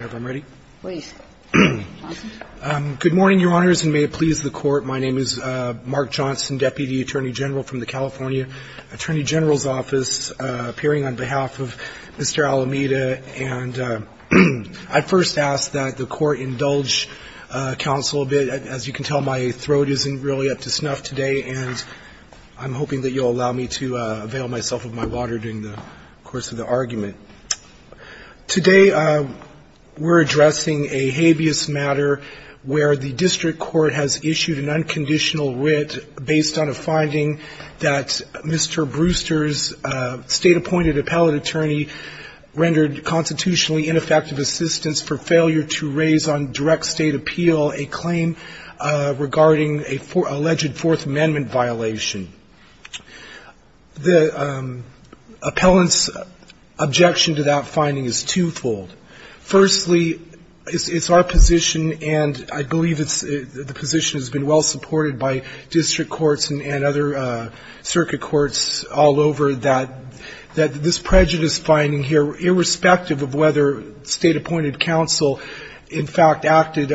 Good morning, Your Honors, and may it please the Court, my name is Mark Johnson, Deputy Attorney General from the California Attorney General's Office, appearing on behalf of Mr. Alameda, and I first ask that the Court indulge counsel a bit. As you can tell, my throat isn't really up to snuff today, and I'm hoping that you'll allow me to avail myself of my water during the course of the argument. Today we're addressing a habeas matter where the district court has issued an unconditional writ based on a finding that Mr. Brewster's state-appointed appellate attorney rendered constitutionally ineffective assistance for failure to raise on direct state appeal a claim regarding an alleged Fourth Amendment violation. The appellant's objection to that finding is twofold. Firstly, it's our position, and I believe the position has been well supported by district courts and other circuit courts all over, that this prejudice finding here, irrespective of whether state-appointed counsel, in fact, acted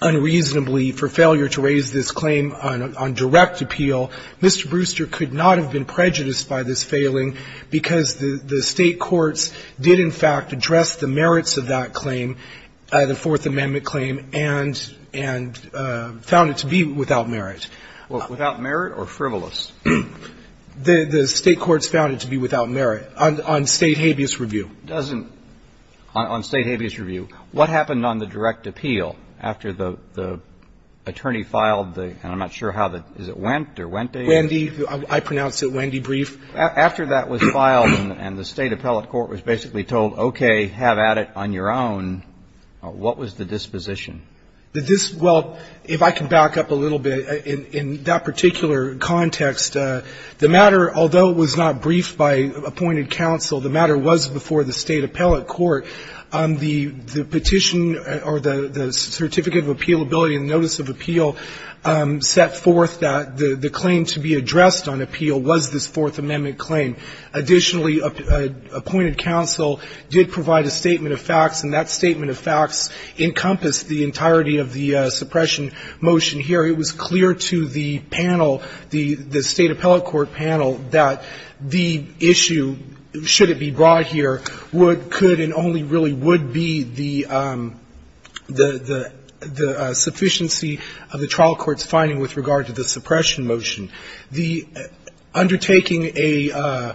unreasonably for failure to raise this claim on direct appeal, Mr. Brewster could not have been prejudiced by this failing because the state courts did, in fact, address the merits of that claim, the Fourth Amendment claim, and found it to be without merit. Without merit or frivolous? The state courts found it to be without merit on state habeas review. It doesn't, on state habeas review. What happened on the direct appeal after the attorney filed the, and I'm not sure how the, is it Wendt or Wente? Wende. I pronounce it Wende brief. After that was filed and the state appellate court was basically told, okay, have at it on your own, what was the disposition? The disposition, well, if I can back up a little bit, in that particular context, the matter, although it was not briefed by appointed counsel, the matter was before the state appellate court. The petition or the certificate of appealability and notice of appeal set forth that the claim to be addressed on appeal was this Fourth Amendment claim. Additionally, appointed counsel did provide a statement of facts, and that statement of facts encompassed the entirety of the suppression motion here. It was clear to the panel, the state appellate court panel, that the issue, should it be brought here, would, could, and only really would be the, the sufficiency of the trial court's finding with regard to the suppression motion. The undertaking a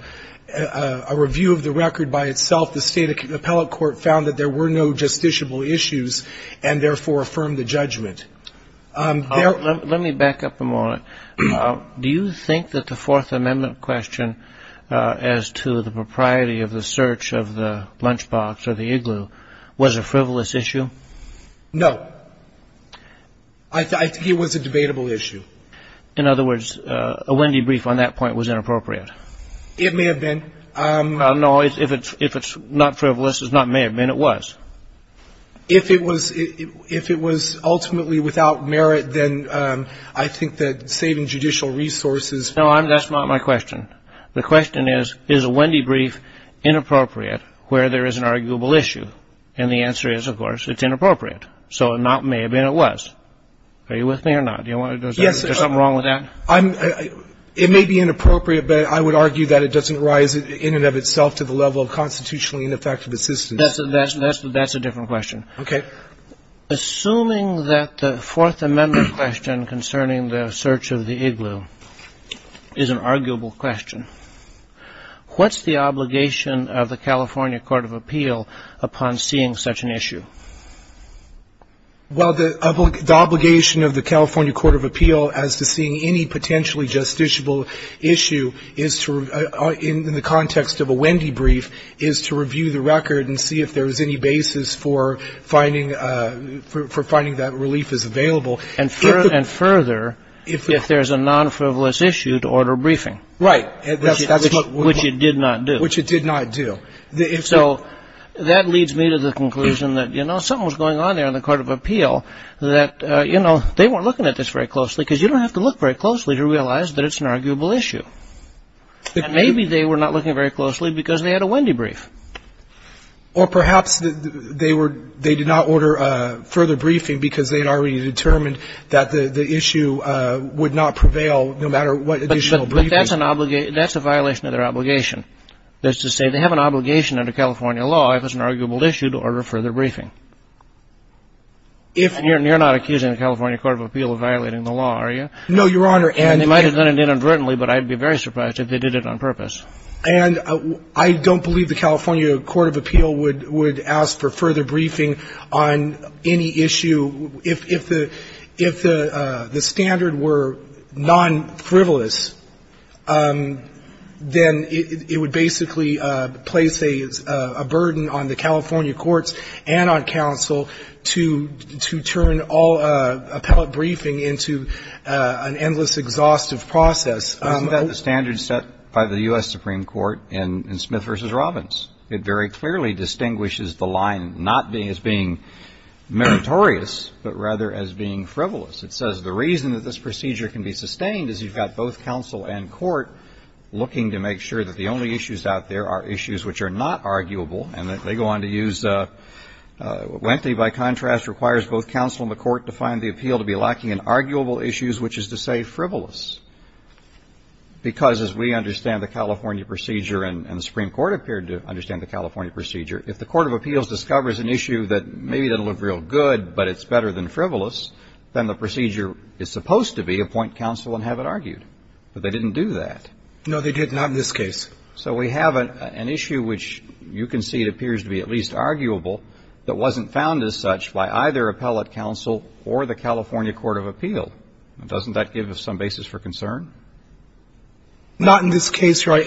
review of the record by itself, the state appellate court found that there were no justiciable issues, and therefore affirmed the judgment. Let me back up a moment. Do you think that the Fourth Amendment question as to the propriety of the search of the lunchbox or the igloo was a frivolous issue? No. I think it was a debatable issue. In other words, a Wendy brief on that point was inappropriate. It may have been. No, if it's not frivolous, it may have been, it was. If it was, if it was ultimately without merit, then I think that saving judicial resources. No, I'm, that's not my question. The question is, is a Wendy brief inappropriate where there is an arguable issue? And the answer is, of course, it's inappropriate. So it may have been, it was. Are you with me or not? Do you want to, is there something wrong with that? I'm, it may be inappropriate, but I would argue that it doesn't rise in and of itself to the level of constitutionally ineffective assistance. That's a different question. Okay. Assuming that the Fourth Amendment question concerning the search of the igloo is an arguable question, what's the obligation of the California Court of Appeal upon seeing such an issue? Well, the obligation of the California Court of Appeal as to seeing any potentially justiciable issue is to, in the context of a Wendy brief, is to review the record and see if there's any basis for finding, for finding that relief is available. And further, if there's a non-frivolous issue, to order a briefing. Right. Which it did not do. Which it did not do. So that leads me to the conclusion that, you know, something was going on there in the Court of Appeal that, you know, they weren't looking at this very closely, because you don't have to look very closely to realize that it's an arguable issue. And maybe they were not looking very closely because they had a Wendy brief. Or perhaps they were, they did not order a further briefing because they had already determined that the issue would not prevail no matter what additional briefing. But that's an obligation, that's a violation of their obligation. That's to say they have an obligation under California law if it's an arguable issue to order a further briefing. And you're not accusing the California Court of Appeal of violating the law, are you? No, Your Honor. And they might have done it inadvertently, but I'd be very surprised if they did it on purpose. And I don't believe the California Court of Appeal would ask for further briefing on any issue. If the standard were non-frivolous, then it would basically place a burden on the California courts and on counsel to turn all appellate briefing into an endless exhaustive process. Isn't that the standard set by the U.S. Supreme Court in Smith v. Robbins? It very clearly distinguishes the line not as being meritorious, but rather as being frivolous. It says the reason that this procedure can be sustained is you've got both counsel and court looking to make sure that the only issues out there are issues which are not arguable. And they go on to use, Wente, by contrast, requires both counsel and the court to find the appeal to be lacking in arguable issues, which is to say frivolous. Because as we understand the California procedure, and the Supreme Court appeared to understand the California procedure, if the Court of Appeals discovers an issue that maybe doesn't look real good, but it's better than frivolous, then the procedure is supposed to be appoint counsel and have it argued. But they didn't do that. No, they did not in this case. So we have an issue which you can see appears to be at least arguable that wasn't found as such by either appellate counsel or the California Court of Appeal. Doesn't that give us some basis for concern? Not in this case, Your Honor.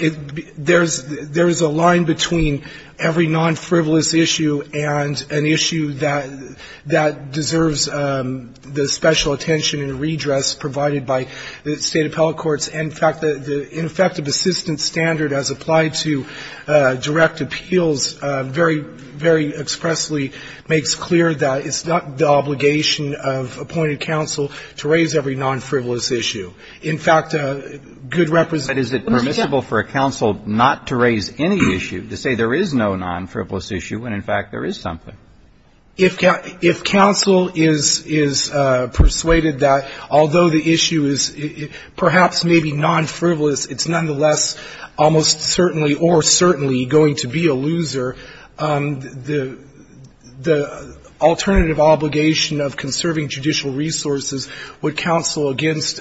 There's a line between every non-frivolous issue and an issue that deserves the special attention and redress provided by the State appellate courts. And, in fact, the ineffective assistance standard as applied to direct appeals very, very expressly makes clear that it's not the obligation of appointed counsel to raise every non-frivolous issue. In fact, good representatives of the State appellate courts have said that. But is it permissible for a counsel not to raise any issue to say there is no non-frivolous issue when, in fact, there is something? If counsel is persuaded that although the issue is perhaps maybe non-frivolous, it's nonetheless almost certainly or certainly going to be a loser, the alternative obligation of conserving judicial resources would counsel against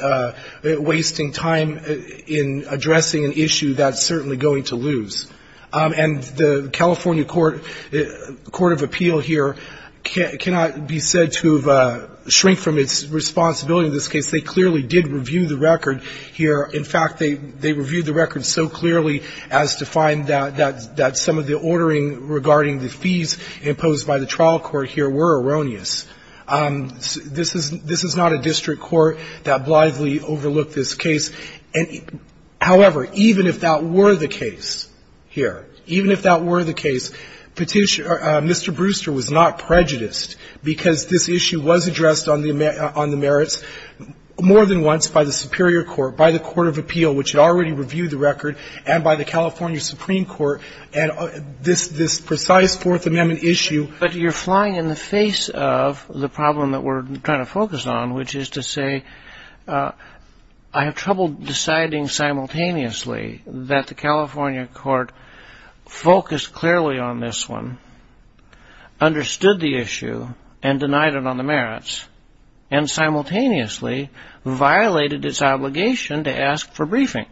wasting time in addressing an issue that's certainly going to lose. And the California Court of Appeal here cannot be said to have shrunk from its responsibility in this case. They clearly did review the record here. In fact, they reviewed the record so clearly as to find that some of the ordering regarding the fees imposed by the trial court here were erroneous. This is not a district court that blithely overlooked this case. However, even if that were the case here, even if that were the case, Mr. Brewster was not prejudiced because this issue was addressed on the merits more than once by the superior court, by the Court of Appeal, which had already reviewed the record, and by the California Supreme Court, and this precise Fourth Amendment issue. But you're flying in the face of the problem that we're trying to focus on, which is to say I have trouble deciding simultaneously that the California court focused clearly on this one, understood the issue, and denied it on the merits, and simultaneously violated its obligation to ask for briefing.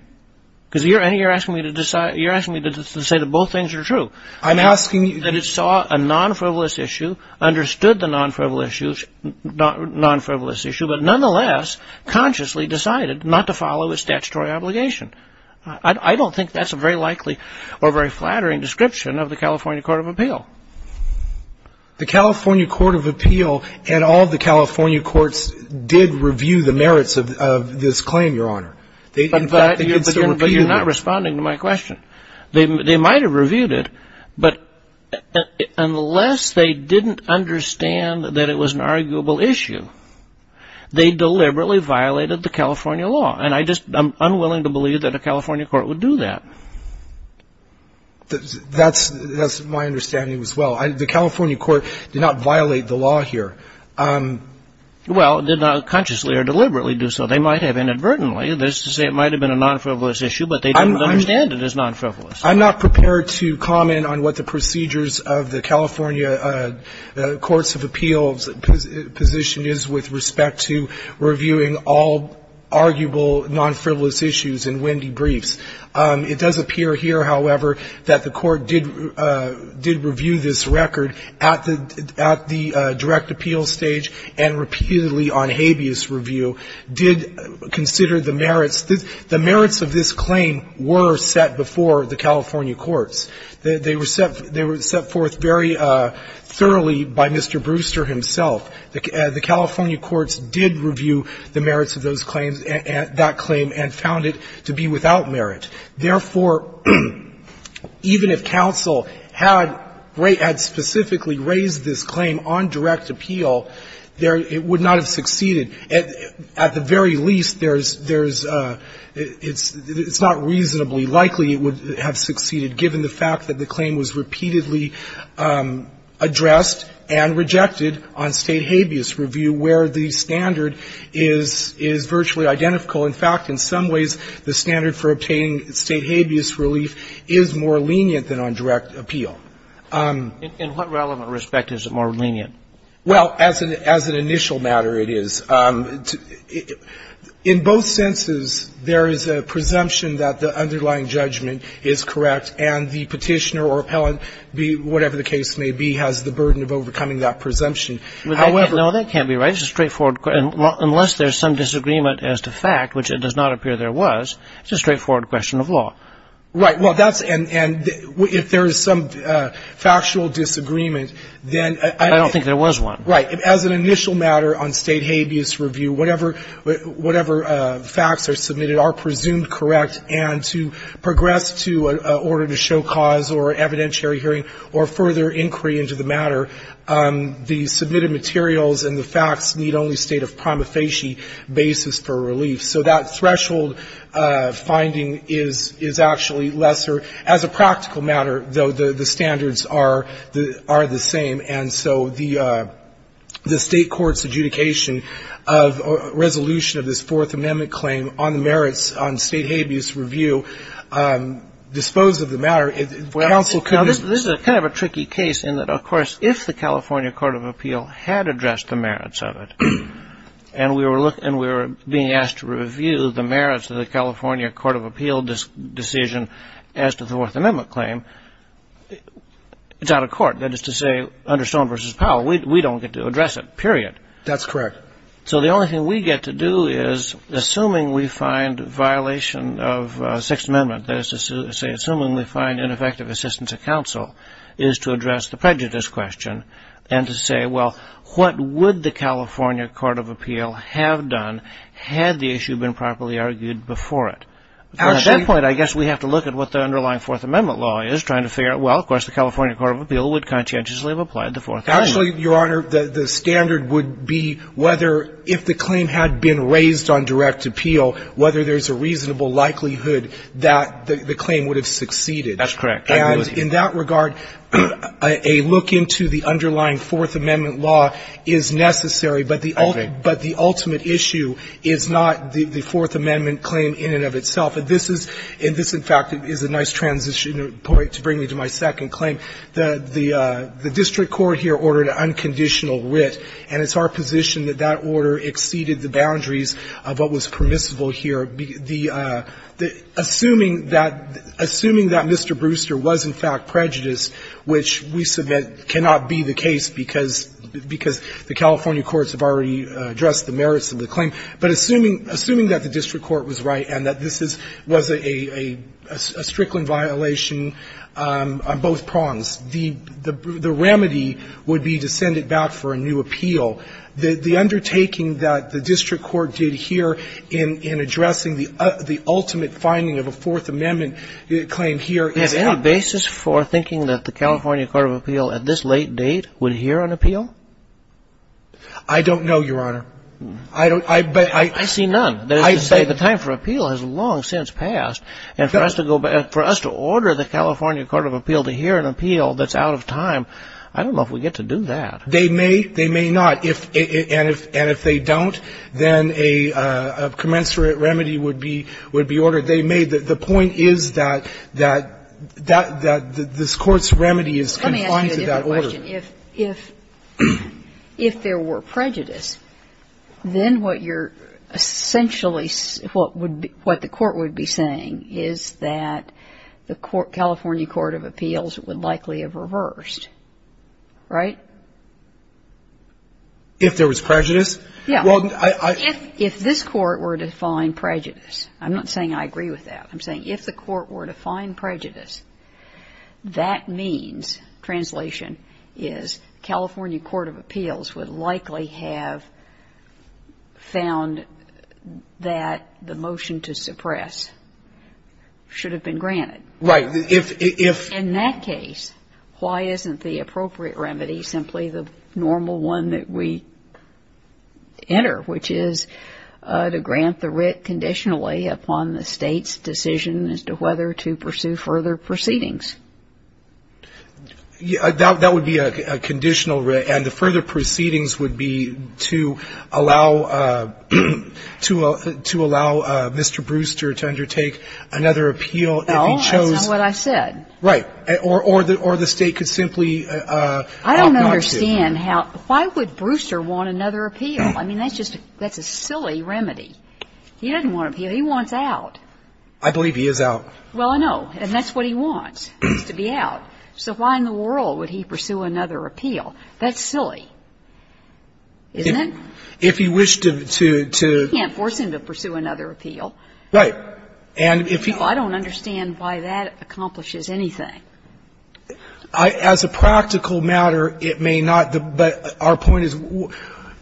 Because you're asking me to say that both things are true. I'm asking you that it saw a non-frivolous issue, understood the non-frivolous issue, but nonetheless consciously decided not to follow its statutory obligation. I don't think that's a very likely or very flattering description of the California Court of Appeal. The California Court of Appeal and all the California courts did review the merits of this claim, Your Honor. In fact, they did so repeatedly. But you're not responding to my question. They might have reviewed it, but unless they didn't understand that it was an arguable issue, they deliberately violated the California law. And I'm just unwilling to believe that a California court would do that. That's my understanding as well. The California court did not violate the law here. Well, it did not consciously or deliberately do so. They might have inadvertently. That's to say it might have been a non-frivolous issue, but they didn't understand it as non-frivolous. I'm not prepared to comment on what the procedures of the California courts of appeals position is with respect to reviewing all arguable non-frivolous issues in Wendy briefs. It does appear here, however, that the Court did review this record at the direct appeal stage and repeatedly on habeas review, did consider the merits. The merits of this claim were set before the California courts. They were set forth very thoroughly by Mr. Brewster himself. The California courts did review the merits of those claims, that claim, and found it to be without merit. Therefore, even if counsel had specifically raised this claim on direct appeal, it would not have succeeded. At the very least, there's — it's not reasonably likely it would have succeeded, given the fact that the claim was repeatedly addressed and rejected on state habeas review, where the standard is virtually identical. In fact, in some ways, the standard for obtaining state habeas relief is more lenient than on direct appeal. In what relevant respect is it more lenient? Well, as an initial matter, it is. In both senses, there is a presumption that the underlying judgment is correct, and the Petitioner or Appellant, whatever the case may be, has the burden of overcoming that presumption. However — No, that can't be right. It's a straightforward — unless there's some disagreement as to fact, which it does not appear there was, it's a straightforward question of law. Right. Well, that's — and if there is some factual disagreement, then — I don't think there was one. Right. As an initial matter on state habeas review, whatever facts are submitted are presumed correct, and to progress to an order to show cause or evidentiary hearing or further inquiry into the matter, the submitted materials and the facts need only state of prima facie basis for relief. So that threshold finding is actually lesser. As a practical matter, though, the standards are the same. And so the state court's adjudication of resolution of this Fourth Amendment claim on the merits on state habeas review disposed of the matter. Counsel could — Now, this is kind of a tricky case in that, of course, if the California Court of Appeal had addressed the merits of it, and we were being asked to review the merits of the California Court of Appeal decision as to the Fourth Amendment claim, it's out of court. That is to say, under Stone v. Powell, we don't get to address it, period. That's correct. So the only thing we get to do is, assuming we find violation of Sixth Amendment, that is to say, assuming we find ineffective assistance of counsel, is to address the prejudice question and to say, well, what would the California Court of Appeal have done had the And at that point, I guess we have to look at what the underlying Fourth Amendment law is, trying to figure out, well, of course, the California Court of Appeal would conscientiously have applied the Fourth Amendment. Actually, Your Honor, the standard would be whether, if the claim had been raised on direct appeal, whether there's a reasonable likelihood that the claim would have succeeded. That's correct. And in that regard, a look into the underlying Fourth Amendment law is necessary, but the ultimate issue is not the Fourth Amendment claim in and of itself. And this is, in fact, is a nice transition point to bring me to my second claim. The district court here ordered an unconditional writ, and it's our position that that order exceeded the boundaries of what was permissible here. Assuming that Mr. Brewster was, in fact, prejudiced, which we submit cannot be the case because the California courts have already addressed the merits of the claim, but assuming that the district court was right and that this was a Strickland violation on both prongs, the remedy would be to send it back for a new appeal. The undertaking that the district court did here in addressing the ultimate finding of a Fourth Amendment claim here is... Is there any basis for thinking that the California Court of Appeal at this late date would hear an appeal? I don't know, Your Honor. I see none. That is to say, the time for appeal has long since passed, and for us to order the California Court of Appeal to hear an appeal that's out of time, I don't know if we get to do that. They may. They may not. And if they don't, then a commensurate remedy would be ordered. They may. The point is that this Court's remedy is confined to that order. Let me ask you a different question. If there were prejudice, then what you're essentially what the court would be saying is that the California Court of Appeals would likely have reversed, right? If there was prejudice? Yeah. If this Court were to find prejudice, I'm not saying I agree with that. I'm saying if the Court were to find prejudice, that means, translation is, California Court of Appeals would likely have found that the motion to suppress should have been granted. Right. In that case, why isn't the appropriate remedy simply the normal one that we enter, which is to grant the writ conditionally upon the State's decision as to whether to pursue further proceedings? That would be a conditional writ. And the further proceedings would be to allow Mr. Brewster to undertake another appeal if he chose to. That's not what I said. Right. Or the State could simply opt not to. I don't understand how. Why would Brewster want another appeal? I mean, that's just a silly remedy. He doesn't want an appeal. He wants out. I believe he is out. Well, I know. And that's what he wants, is to be out. So why in the world would he pursue another appeal? That's silly, isn't it? If he wished to... You can't force him to pursue another appeal. Right. And if he... I don't understand why that accomplishes anything. As a practical matter, it may not. But our point is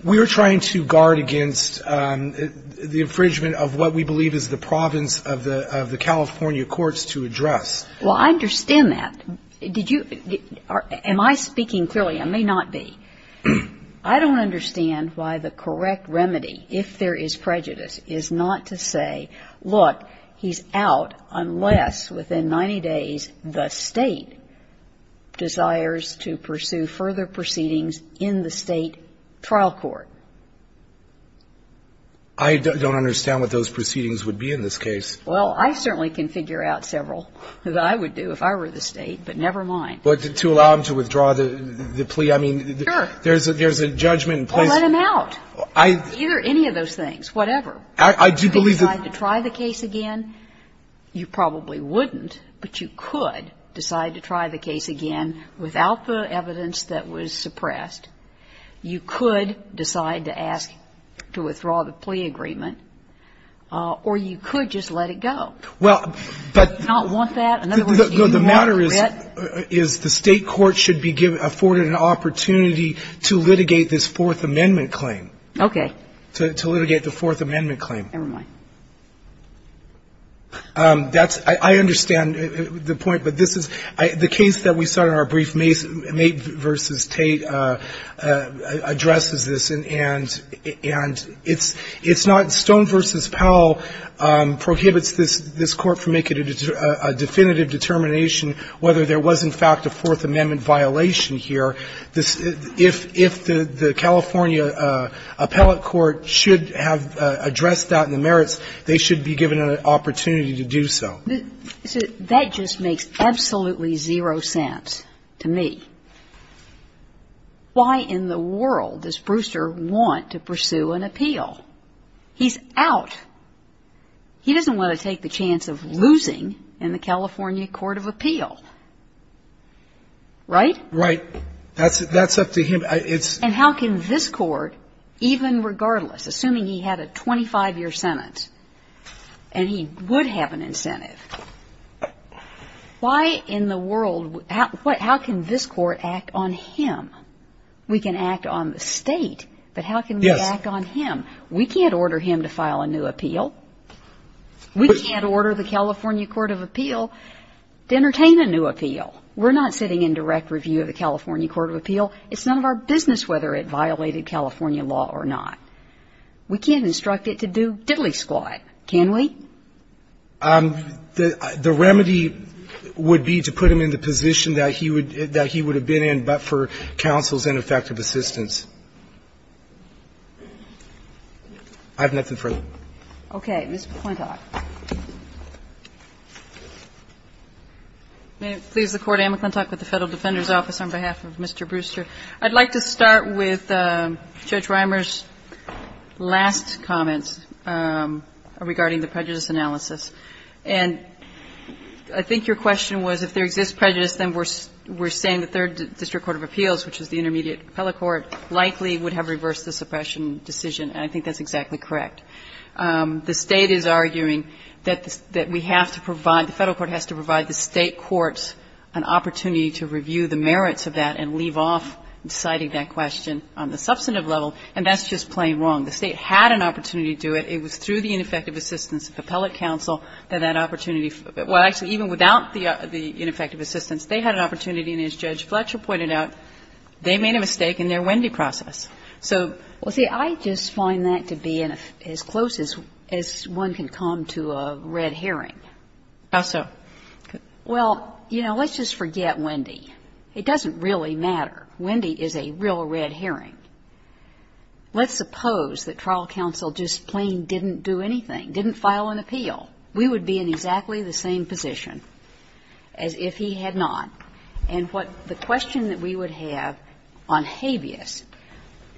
we are trying to guard against the infringement of what we believe is the province of the California courts to address. Well, I understand that. Did you... Am I speaking clearly? I may not be. I don't understand why the correct remedy, if there is prejudice, is not to say, look, he's out unless, within 90 days, the State desires to pursue further proceedings in the State trial court. I don't understand what those proceedings would be in this case. Well, I certainly can figure out several that I would do if I were the State, but never mind. But to allow him to withdraw the plea... Sure. There's a judgment in place. Well, let him out. I... Either any of those things, whatever. I do believe that... You could decide to try the case again. You probably wouldn't, but you could decide to try the case again without the evidence that was suppressed. You could decide to ask to withdraw the plea agreement, or you could just let it go. Well, but... Do you not want that? No, the matter is, is the State court should be afforded an opportunity to litigate this Fourth Amendment claim. Okay. To litigate the Fourth Amendment claim. Never mind. That's... I understand the point, but this is... The case that we saw in our brief, Mate v. Tate, addresses this, and it's not Stone v. Powell prohibits this Court from making a definitive determination whether there was, in fact, a Fourth Amendment violation here. If the California appellate court should have addressed that in the merits, they should be given an opportunity to do so. That just makes absolutely zero sense to me. Why in the world does Brewster want to pursue an appeal? He's out. He doesn't want to take the chance of losing in the California court of appeal. Right? Right. That's up to him. It's... And how can this Court, even regardless, assuming he had a 25-year sentence and he would have an incentive, why in the world, how can this Court act on him? We can act on the State, but how can we act on him? We can't order him to file a new appeal. We can't order the California court of appeal to entertain a new appeal. We're not sitting in direct review of the California court of appeal. It's none of our business whether it violated California law or not. We can't instruct it to do diddly squat, can we? The remedy would be to put him in the position that he would have been in, but for counsel's ineffective assistance. I have nothing further. Okay. Ms. McClintock. May it please the Court. Anne McClintock with the Federal Defender's Office on behalf of Mr. Brewster. I'd like to start with Judge Rimer's last comments regarding the prejudice analysis. And I think your question was if there exists prejudice, then we're saying the third district court of appeals, which is the intermediate appellate court, likely would have reversed the suppression decision. And I think that's exactly correct. The State is arguing that we have to provide, the Federal court has to provide the State courts an opportunity to review the merits of that and leave off deciding that question on the substantive level. And that's just plain wrong. The State had an opportunity to do it. It was through the ineffective assistance of appellate counsel that that opportunity without the ineffective assistance, they had an opportunity. And as Judge Fletcher pointed out, they made a mistake in their Wendy process. So. Well, see, I just find that to be as close as one can come to a red herring. How so? Well, you know, let's just forget Wendy. It doesn't really matter. Wendy is a real red herring. Let's suppose that trial counsel just plain didn't do anything, didn't file an appeal. We would be in exactly the same position as if he had not. And what the question that we would have on habeas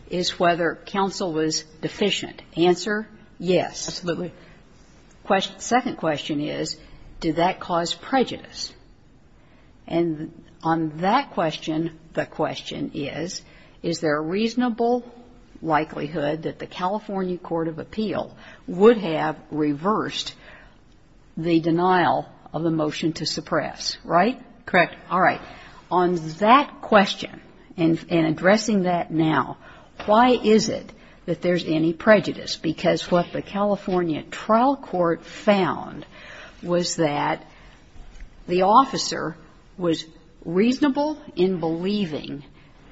is whether counsel was deficient. Answer? Yes. Absolutely. Second question is, did that cause prejudice? And on that question, the question is, is there a reasonable likelihood that the California Court of Appeal would have reversed the denial of the motion to suppress, right? Correct. All right. On that question and addressing that now, why is it that there's any prejudice? Because what the California trial court found was that the officer was reasonable in believing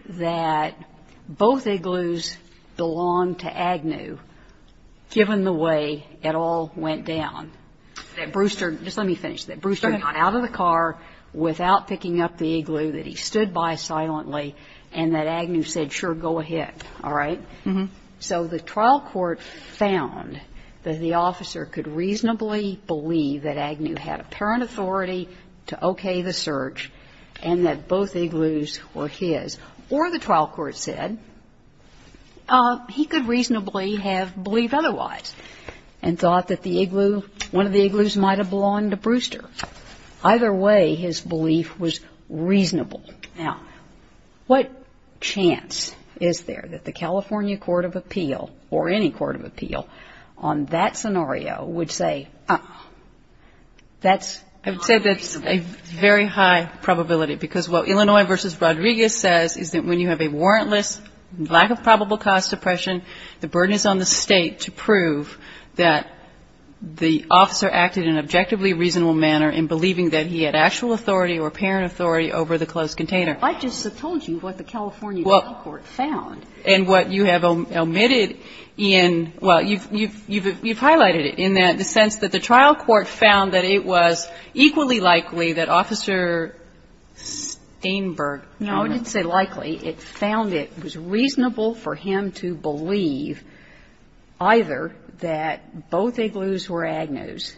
that both igloos belonged to Agnew, given the way it all went down. That Brewster, just let me finish, that Brewster got out of the car without picking up the igloo, that he stood by silently, and that Agnew said, sure, go ahead. All right? So the trial court found that the officer could reasonably believe that Agnew had apparent authority to okay the search, and that both igloos were his. Or the trial court said he could reasonably have believed otherwise and thought that the igloo, one of the igloos might have belonged to Brewster. Either way, his belief was reasonable. Now, what chance is there that the California Court of Appeal, or any court of appeal, on that scenario would say that's not reasonable? I would say that's a very high probability. Because what Illinois v. Rodriguez says is that when you have a warrantless lack of probable cause suppression, the burden is on the State to prove that the officer acted in an objectively reasonable manner in believing that he had actual authority or apparent authority over the closed container. I just told you what the California trial court found. And what you have omitted in, well, you've highlighted it, in the sense that the trial court found that it was equally likely that Officer Steinberg. No, I didn't say likely. It found it was reasonable for him to believe either that both igloos were Agnew's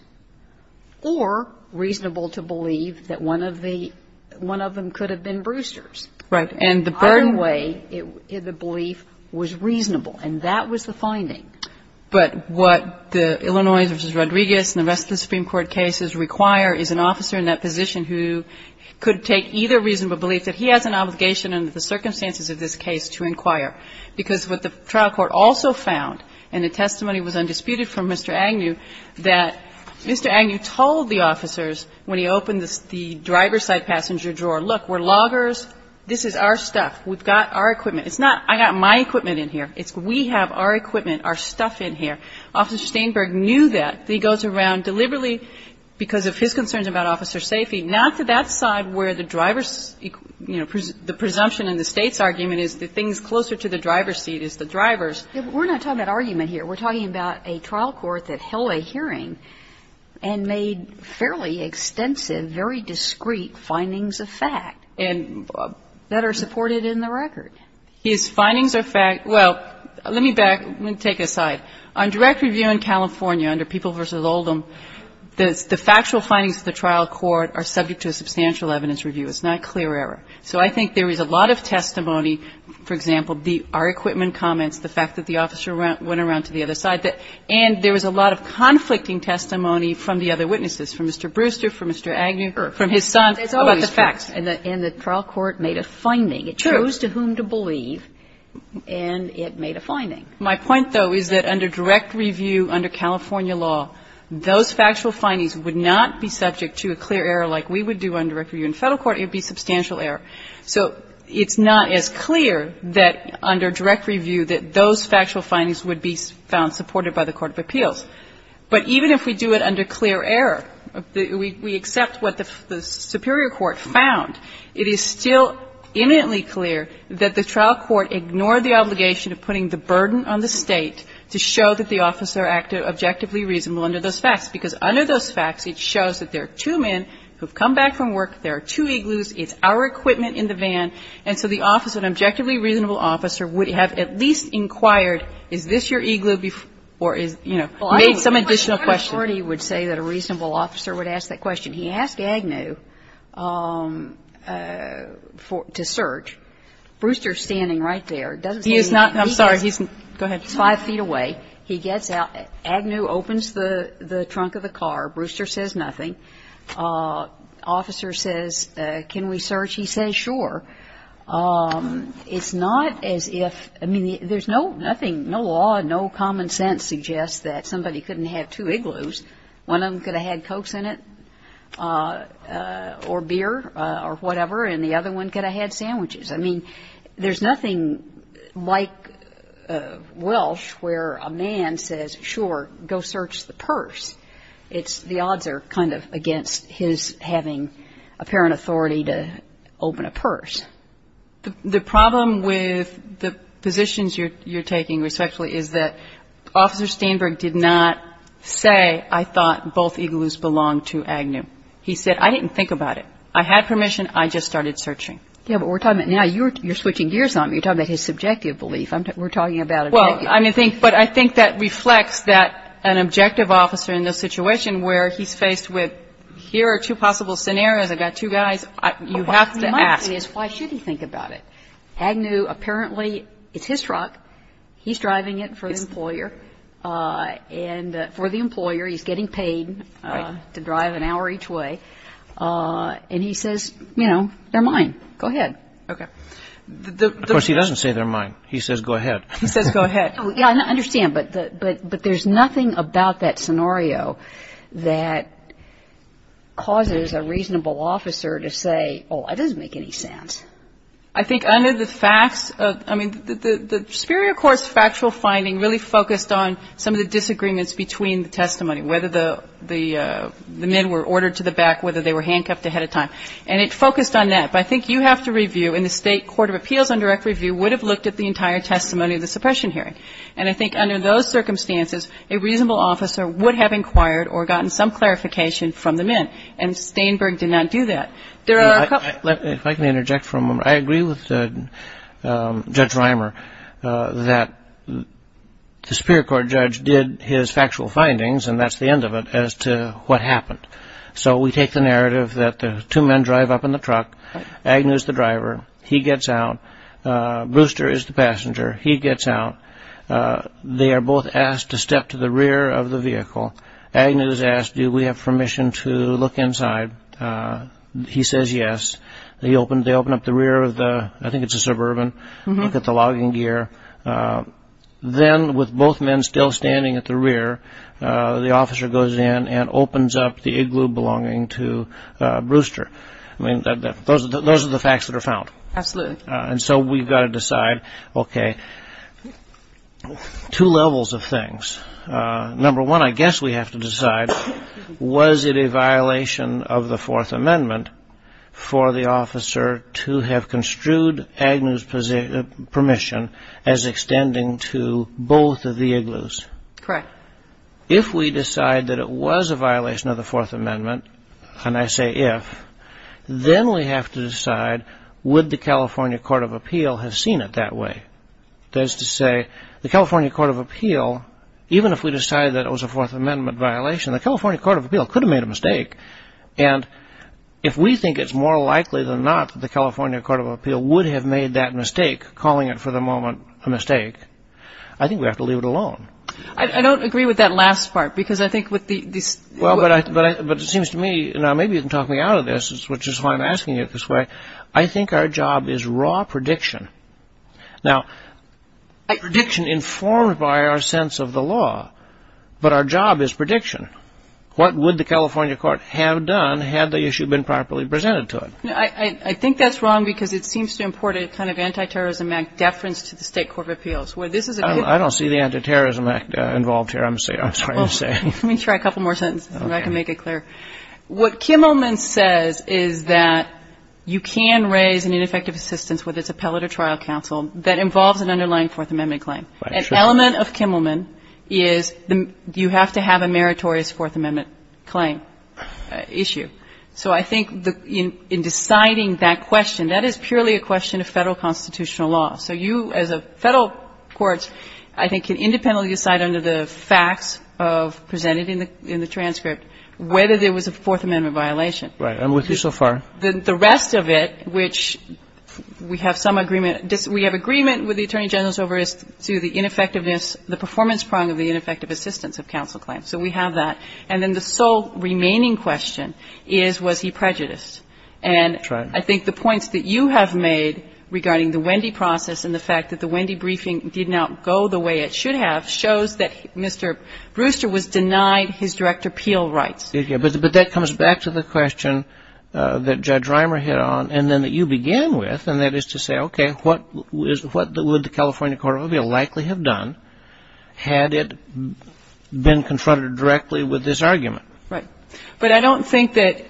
or reasonable to believe that one of the one of them could have been Brewster's. Either way, the belief was reasonable. And that was the finding. But what the Illinois v. Rodriguez and the rest of the Supreme Court cases require is an officer in that position who could take either reasonable belief that he has an obligation under the circumstances of this case to inquire. Because what the trial court also found, and the testimony was undisputed from Mr. Agnew, that Mr. Agnew told the officers when he opened the driver's side passenger drawer, look, we're loggers. This is our stuff. We've got our equipment. It's not I've got my equipment in here. It's we have our equipment, our stuff in here. Officer Steinberg knew that. He goes around deliberately because of his concerns about officer's safety, not to that side where the driver's, you know, the presumption in the State's argument is the things closer to the driver's seat is the driver's. We're not talking about argument here. We're talking about a trial court that held a hearing and made fairly extensive, very discreet findings of fact. And that are supported in the record. His findings are fact. Well, let me back. Let me take it aside. On direct review in California under People v. Oldham, the factual findings of the trial court are subject to a substantial evidence review. It's not clear error. So I think there is a lot of testimony, for example, our equipment comments, testimony from the other witnesses, from Mr. Brewster, from Mr. Agnew, from his son about the facts. And the trial court made a finding. It chose to whom to believe, and it made a finding. My point, though, is that under direct review under California law, those factual findings would not be subject to a clear error like we would do on direct review in Federal court. It would be substantial error. So it's not as clear that under direct review that those factual findings would be found supported by the court of appeals. But even if we do it under clear error, we accept what the superior court found, it is still imminently clear that the trial court ignored the obligation of putting the burden on the State to show that the officer acted objectively reasonable under those facts, because under those facts it shows that there are two men who have come back from work, there are two Igloos, it's our equipment in the van, and so the officer, an objectively reasonable officer, would have at least inquired is this your Igloo, or is, you know, made some additional question. Kagan. My authority would say that a reasonable officer would ask that question. He asked Agnew to search. Brewster is standing right there. He is not. I'm sorry. Go ahead. He's 5 feet away. He gets out. Agnew opens the trunk of the car. Brewster says nothing. Officer says can we search. He says sure. It's not as if, I mean, there's nothing, no law, no common sense suggests that somebody couldn't have two Igloos. One of them could have had Cokes in it or beer or whatever, and the other one could have had sandwiches. I mean, there's nothing like Welsh where a man says sure, go search the purse. The odds are kind of against his having apparent authority to open a purse. The problem with the positions you're taking, respectfully, is that Officer Steinberg did not say I thought both Igloos belonged to Agnew. He said I didn't think about it. I had permission. I just started searching. Yeah, but we're talking about now you're switching gears on me. You're talking about his subjective belief. We're talking about objective. But I think that reflects that an objective officer in a situation where he's faced with here are two possible scenarios. I've got two guys. You have to ask. My question is why should he think about it? Agnew, apparently, it's his truck. He's driving it for the employer. And for the employer, he's getting paid to drive an hour each way. And he says, you know, they're mine. Go ahead. Okay. Of course, he doesn't say they're mine. He says go ahead. He says go ahead. Yeah, I understand. But there's nothing about that scenario that causes a reasonable officer to say, oh, that doesn't make any sense. I think under the facts, I mean, the superior court's factual finding really focused on some of the disagreements between the testimony, whether the men were ordered to the back, whether they were handcuffed ahead of time. And it focused on that. But I think you have to review, and the state court of appeals on direct review would have looked at the entire testimony of the suppression hearing. And I think under those circumstances, a reasonable officer would have inquired or gotten some clarification from the men. And Steinberg did not do that. There are a couple. If I can interject for a moment, I agree with Judge Reimer that the superior court judge did his factual findings, and that's the end of it, as to what happened. So we take the narrative that the two men drive up in the truck. Agnew is the driver. He gets out. Brewster is the passenger. He gets out. They are both asked to step to the rear of the vehicle. Agnew is asked, do we have permission to look inside? He says yes. They open up the rear of the, I think it's a Suburban, look at the logging gear. Then with both men still standing at the rear, the officer goes in and opens up the igloo belonging to Brewster. I mean, those are the facts that are found. Absolutely. And so we've got to decide, okay, two levels of things. Number one, I guess we have to decide, was it a violation of the Fourth Amendment for the officer to have construed Agnew's permission as extending to both of the igloos? Correct. If we decide that it was a violation of the Fourth Amendment, and I say if, then we have to decide, would the California Court of Appeal have seen it that way? That is to say, the California Court of Appeal, even if we decide that it was a Fourth Amendment violation, the California Court of Appeal could have made a mistake. And if we think it's more likely than not that the California Court of Appeal would have made that mistake, calling it for the moment a mistake, I think we have to leave it alone. I don't agree with that last part, because I think with the... Well, but it seems to me, and maybe you can talk me out of this, which is why I'm asking it this way, I think our job is raw prediction. Now, prediction informed by our sense of the law, but our job is prediction. What would the California Court have done had the issue been properly presented to it? I think that's wrong, because it seems to import a kind of anti-terrorism act deference to the State Court of Appeals, where this is a... I don't see the anti-terrorism act involved here, I'm sorry to say. Let me try a couple more sentences, if I can make it clear. What Kimmelman says is that you can raise an ineffective assistance, whether it's appellate or trial counsel, that involves an underlying Fourth Amendment claim. An element of Kimmelman is you have to have a meritorious Fourth Amendment claim issue. So I think in deciding that question, that is purely a question of Federal constitutional law. So you, as a Federal court, I think can independently decide under the facts presented in the transcript whether there was a Fourth Amendment violation. Right. I'm with you so far. The rest of it, which we have some agreement... We have agreement with the Attorney General's over the ineffectiveness, the performance prong of the ineffective assistance of counsel claims. So we have that. And then the sole remaining question is, was he prejudiced? That's right. And I think the points that you have made regarding the Wendy process and the fact that the Wendy briefing did not go the way it should have, shows that Mr. Brewster was denied his direct appeal rights. But that comes back to the question that Judge Reimer hit on and then that you began with, and that is to say, okay, what would the California Court of Appeal likely have done had it been confronted directly with this argument? Right. But I don't think that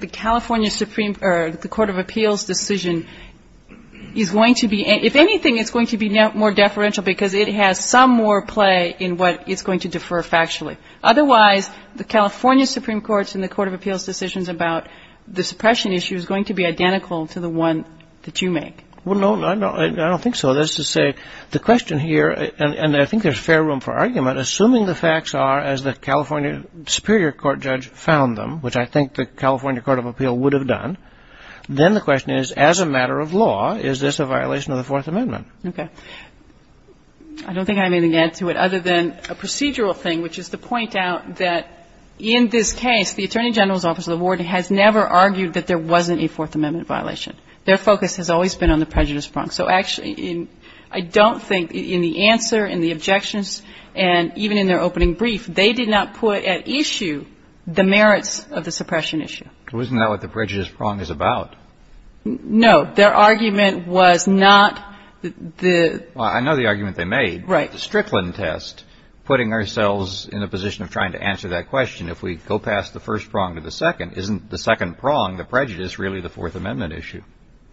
the California Supreme Court or the Court of Appeals decision is going to be, if anything, it's going to be more deferential because it has some more play in what it's going to defer factually. Otherwise, the California Supreme Courts and the Court of Appeals decisions about the suppression issue is going to be identical to the one that you make. Well, no, I don't think so. That is to say, the question here, and I think there's fair room for argument, assuming the facts are as the California Superior Court judge found them, which I think the California Court of Appeal would have done, then the question is, as a matter of law, is this a violation of the Fourth Amendment? Okay. I don't think I have anything to add to it other than a procedural thing, which is to point out that in this case the Attorney General's Office of the Board has never argued that there wasn't a Fourth Amendment violation. Their focus has always been on the prejudice front. So actually, I don't think in the answer, in the objections, and even in their opening brief, they did not put at issue the merits of the suppression issue. Well, isn't that what the prejudice prong is about? No. Their argument was not the – Well, I know the argument they made. Right. The Strickland test, putting ourselves in a position of trying to answer that question, if we go past the first prong to the second, isn't the second prong, the prejudice, really the Fourth Amendment issue?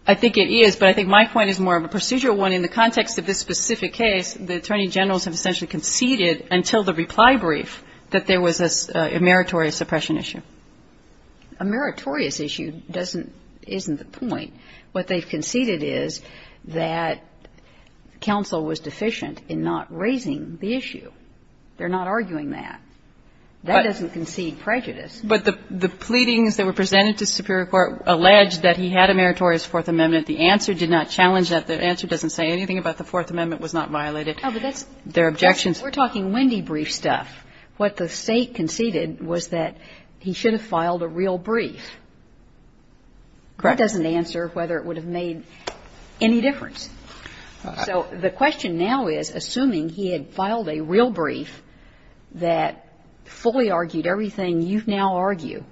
I think it is, but I think my point is more of a procedural one. In the context of this specific case, the Attorney Generals have essentially conceded until the reply brief that there was a meritorious suppression issue. A meritorious issue doesn't – isn't the point. What they've conceded is that counsel was deficient in not raising the issue. They're not arguing that. That doesn't concede prejudice. But the pleadings that were presented to superior court alleged that he had a meritorious Fourth Amendment. The answer did not challenge that. The answer doesn't say anything about the Fourth Amendment was not violated. Oh, but that's – Their objections – We're talking Wendy brief stuff. What the State conceded was that he should have filed a real brief. Correct. That doesn't answer whether it would have made any difference. All right. So the question now is, assuming he had filed a real brief that fully argued everything you now argue,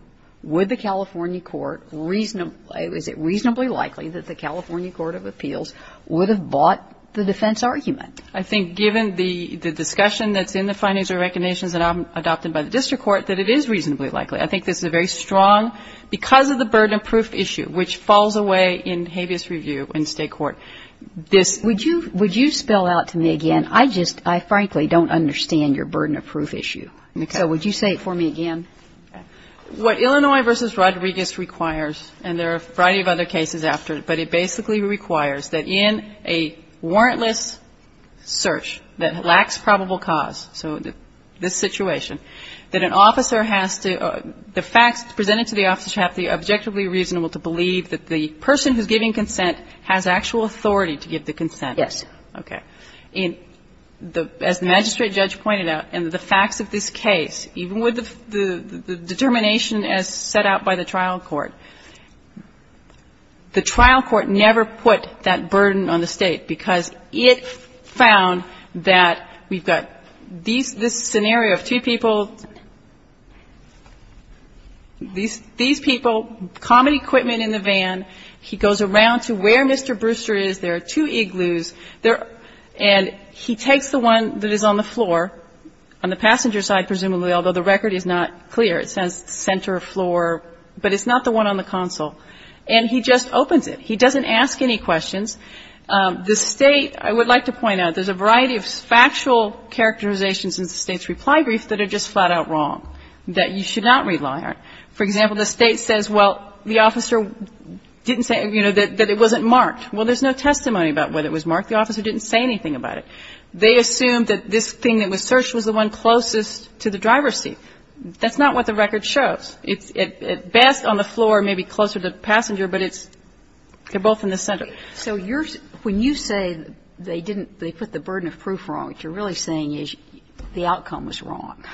would the California court – is it reasonably likely that the California Court of Appeals would have bought the defense argument? I think given the discussion that's in the findings or recognitions that I'm adopting by the district court, that it is reasonably likely. I think this is a very strong – because of the burden of proof issue, which falls away in habeas review in State court, this – Would you spell out to me again? I just – I frankly don't understand your burden of proof issue. Okay. So would you say it for me again? What Illinois v. Rodriguez requires, and there are a variety of other cases after it, but it basically requires that in a warrantless search that lacks probable cause, so this situation, that an officer has to – the facts presented to the officer should have to be objectively reasonable to believe that the person who's giving consent has actual authority to give the consent. Yes. Okay. As the magistrate judge pointed out, in the facts of this case, even with the determination as set out by the trial court, the trial court never put that burden on the State because it found that we've got these – this scenario of two people, these people, common equipment in the van, he goes around to where Mr. Brewster is, there are two and he takes the one that is on the floor, on the passenger side presumably, although the record is not clear. It says center floor, but it's not the one on the console. And he just opens it. He doesn't ask any questions. The State, I would like to point out, there's a variety of factual characterizations in the State's reply brief that are just flat out wrong, that you should not rely on. For example, the State says, well, the officer didn't say, you know, that it wasn't Well, there's no testimony about whether it was marked. The officer didn't say anything about it. They assumed that this thing that was searched was the one closest to the driver's seat. That's not what the record shows. It's at best on the floor, maybe closer to the passenger, but it's – they're both in the center. So you're – when you say they didn't – they put the burden of proof wrong, what you're really saying is the outcome was wrong.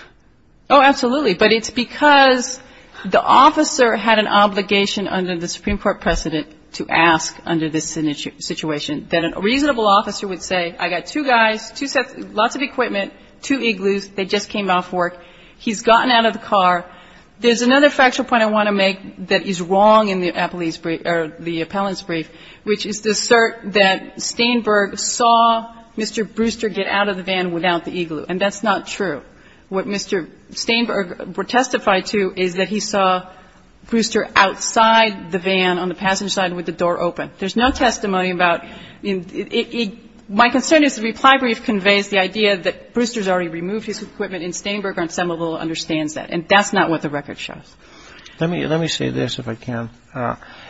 Oh, absolutely. But it's because the officer had an obligation under the Supreme Court precedent to ask under this situation that a reasonable officer would say, I got two guys, two sets – lots of equipment, two igloos, they just came off work, he's gotten out of the car. There's another factual point I want to make that is wrong in the appellant's brief, which is the assert that Steinberg saw Mr. Brewster get out of the van without the igloo. And that's not true. What Mr. Steinberg testified to is that he saw Brewster outside the van on the passenger side with the door open. There's no testimony about – my concern is the reply brief conveys the idea that Brewster's already removed his equipment, and Steinberg, on some level, understands that. And that's not what the record shows. Let me say this, if I can.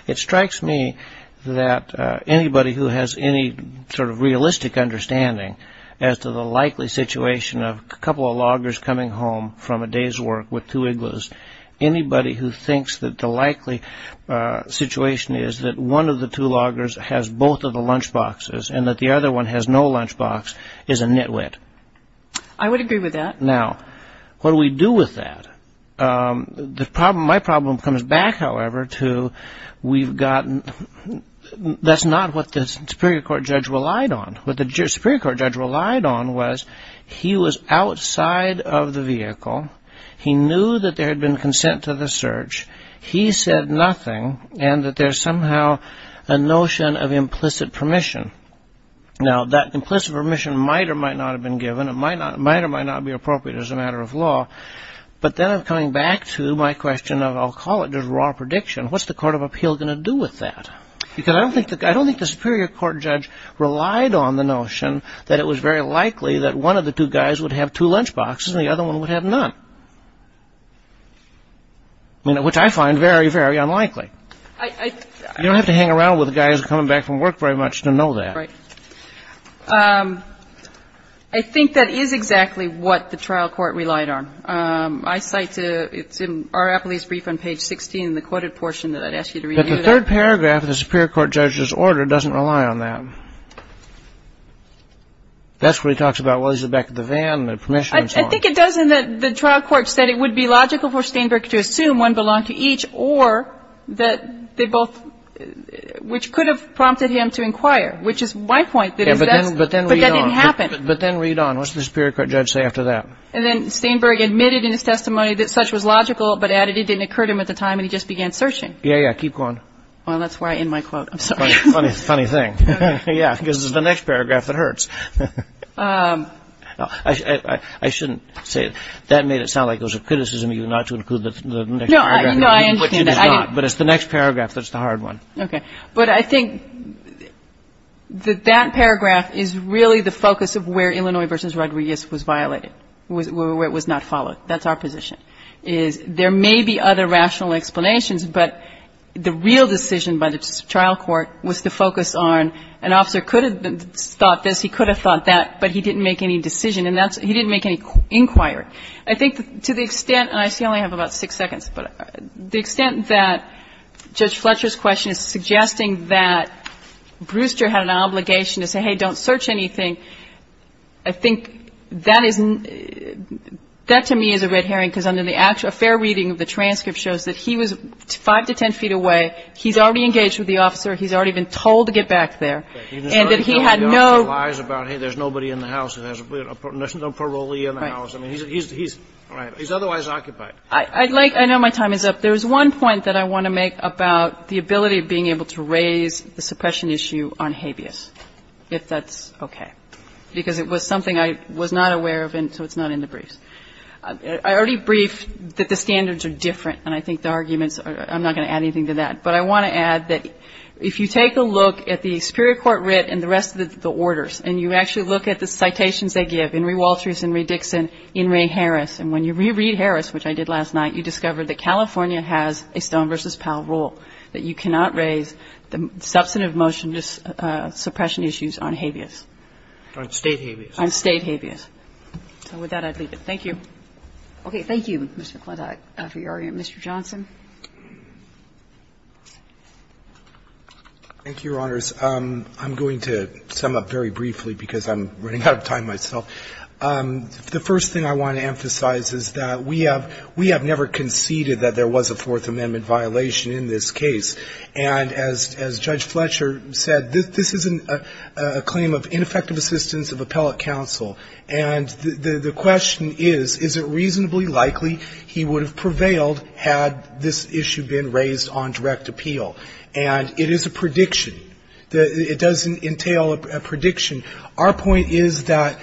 It strikes me that anybody who has any sort of realistic understanding as to the likely situation of a couple of loggers coming home from a day's work with two igloos, anybody who thinks that the likely situation is that one of the two loggers has both of the lunchboxes and that the other one has no lunchbox is a nitwit. I would agree with that. Now, what do we do with that? My problem comes back, however, to we've gotten – that's not what the Superior Court judge relied on. What the Superior Court judge relied on was he was outside of the vehicle. He knew that there had been consent to the search. He said nothing, and that there's somehow a notion of implicit permission. Now, that implicit permission might or might not have been given. It might or might not be appropriate as a matter of law. But then I'm coming back to my question of – I'll call it just raw prediction. What's the Court of Appeal going to do with that? Because I don't think the Superior Court judge relied on the notion that it was very unlikely. I mean, which I find very, very unlikely. You don't have to hang around with a guy who's coming back from work very much to know that. Right. I think that is exactly what the trial court relied on. I cite to – it's in R. Appley's brief on page 16 in the quoted portion that I'd ask you to review that. But the third paragraph of the Superior Court judge's order doesn't rely on that. That's where he talks about, well, he's in the back of the van and the permission and so on. I think it does in that the trial court said it would be logical for Steinberg to assume one belonged to each or that they both – which could have prompted him to inquire, which is my point. Yeah, but then read on. But that didn't happen. But then read on. What's the Superior Court judge say after that? And then Steinberg admitted in his testimony that such was logical but added it didn't occur to him at the time and he just began searching. Yeah, yeah. Keep going. Well, that's where I end my quote. I'm sorry. Funny thing. Okay. Yeah, because it's the next paragraph that hurts. I shouldn't say it. That made it sound like it was a criticism of you not to include the next paragraph. No, I understand. But it's the next paragraph that's the hard one. Okay. But I think that that paragraph is really the focus of where Illinois v. Rodriguez was violated, where it was not followed. That's our position. There may be other rational explanations, but the real decision by the trial court was to focus on an officer could have thought this, he could have thought that, but he didn't make any decision. And he didn't make any inquiry. I think to the extent, and I only have about six seconds, but the extent that Judge Fletcher's question is suggesting that Brewster had an obligation to say, hey, don't search anything, I think that is, that to me is a red herring because a fair reading of the transcript shows that he was five to ten feet away. He's already engaged with the officer. He's already been told to get back there. And that he had no ---- He's already told the officer lies about, hey, there's nobody in the house. There's no parolee in the house. I mean, he's otherwise occupied. I'd like to ---- I know my time is up. There's one point that I want to make about the ability of being able to raise the suppression issue on habeas, if that's okay, because it was something I was not aware of, and so it's not in the briefs. I already briefed that the standards are different, and I think the arguments I'm not going to add anything to that. But I want to add that if you take a look at the superior court writ and the rest of the orders, and you actually look at the citations they give, In re. Walters, In re. Dixon, In re. Harris, and when you reread Harris, which I did last night, you discover that California has a Stone v. Powell rule that you cannot raise the substantive motion to suppression issues on habeas. On State habeas. On State habeas. So with that, I'd leave it. Thank you. Okay. Thank you, Mr. McClintock, for your argument. Mr. Johnson. Thank you, Your Honors. I'm going to sum up very briefly because I'm running out of time myself. The first thing I want to emphasize is that we have never conceded that there was a Fourth Amendment violation in this case. And as Judge Fletcher said, this isn't a claim of ineffective assistance of appellate counsel. And the question is, is it reasonably likely he would have prevailed had this issue been raised on direct appeal? And it is a prediction. It doesn't entail a prediction. Our point is that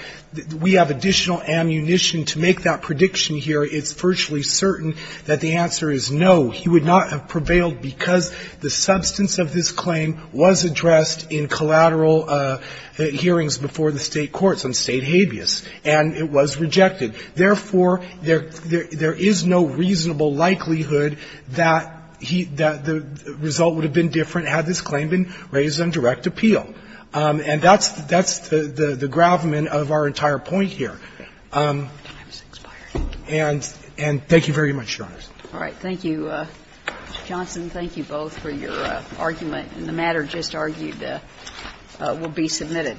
we have additional ammunition to make that prediction here. It's virtually certain that the answer is no. He would not have prevailed because the substance of this claim was addressed in collateral hearings before the State courts on State habeas, and it was rejected. Therefore, there is no reasonable likelihood that the result would have been different had this claim been raised on direct appeal. And that's the gravamen of our entire point here. And thank you very much, Your Honors. All right. Thank you, Mr. Johnson. Thank you both for your argument. And the matter just argued will be submitted.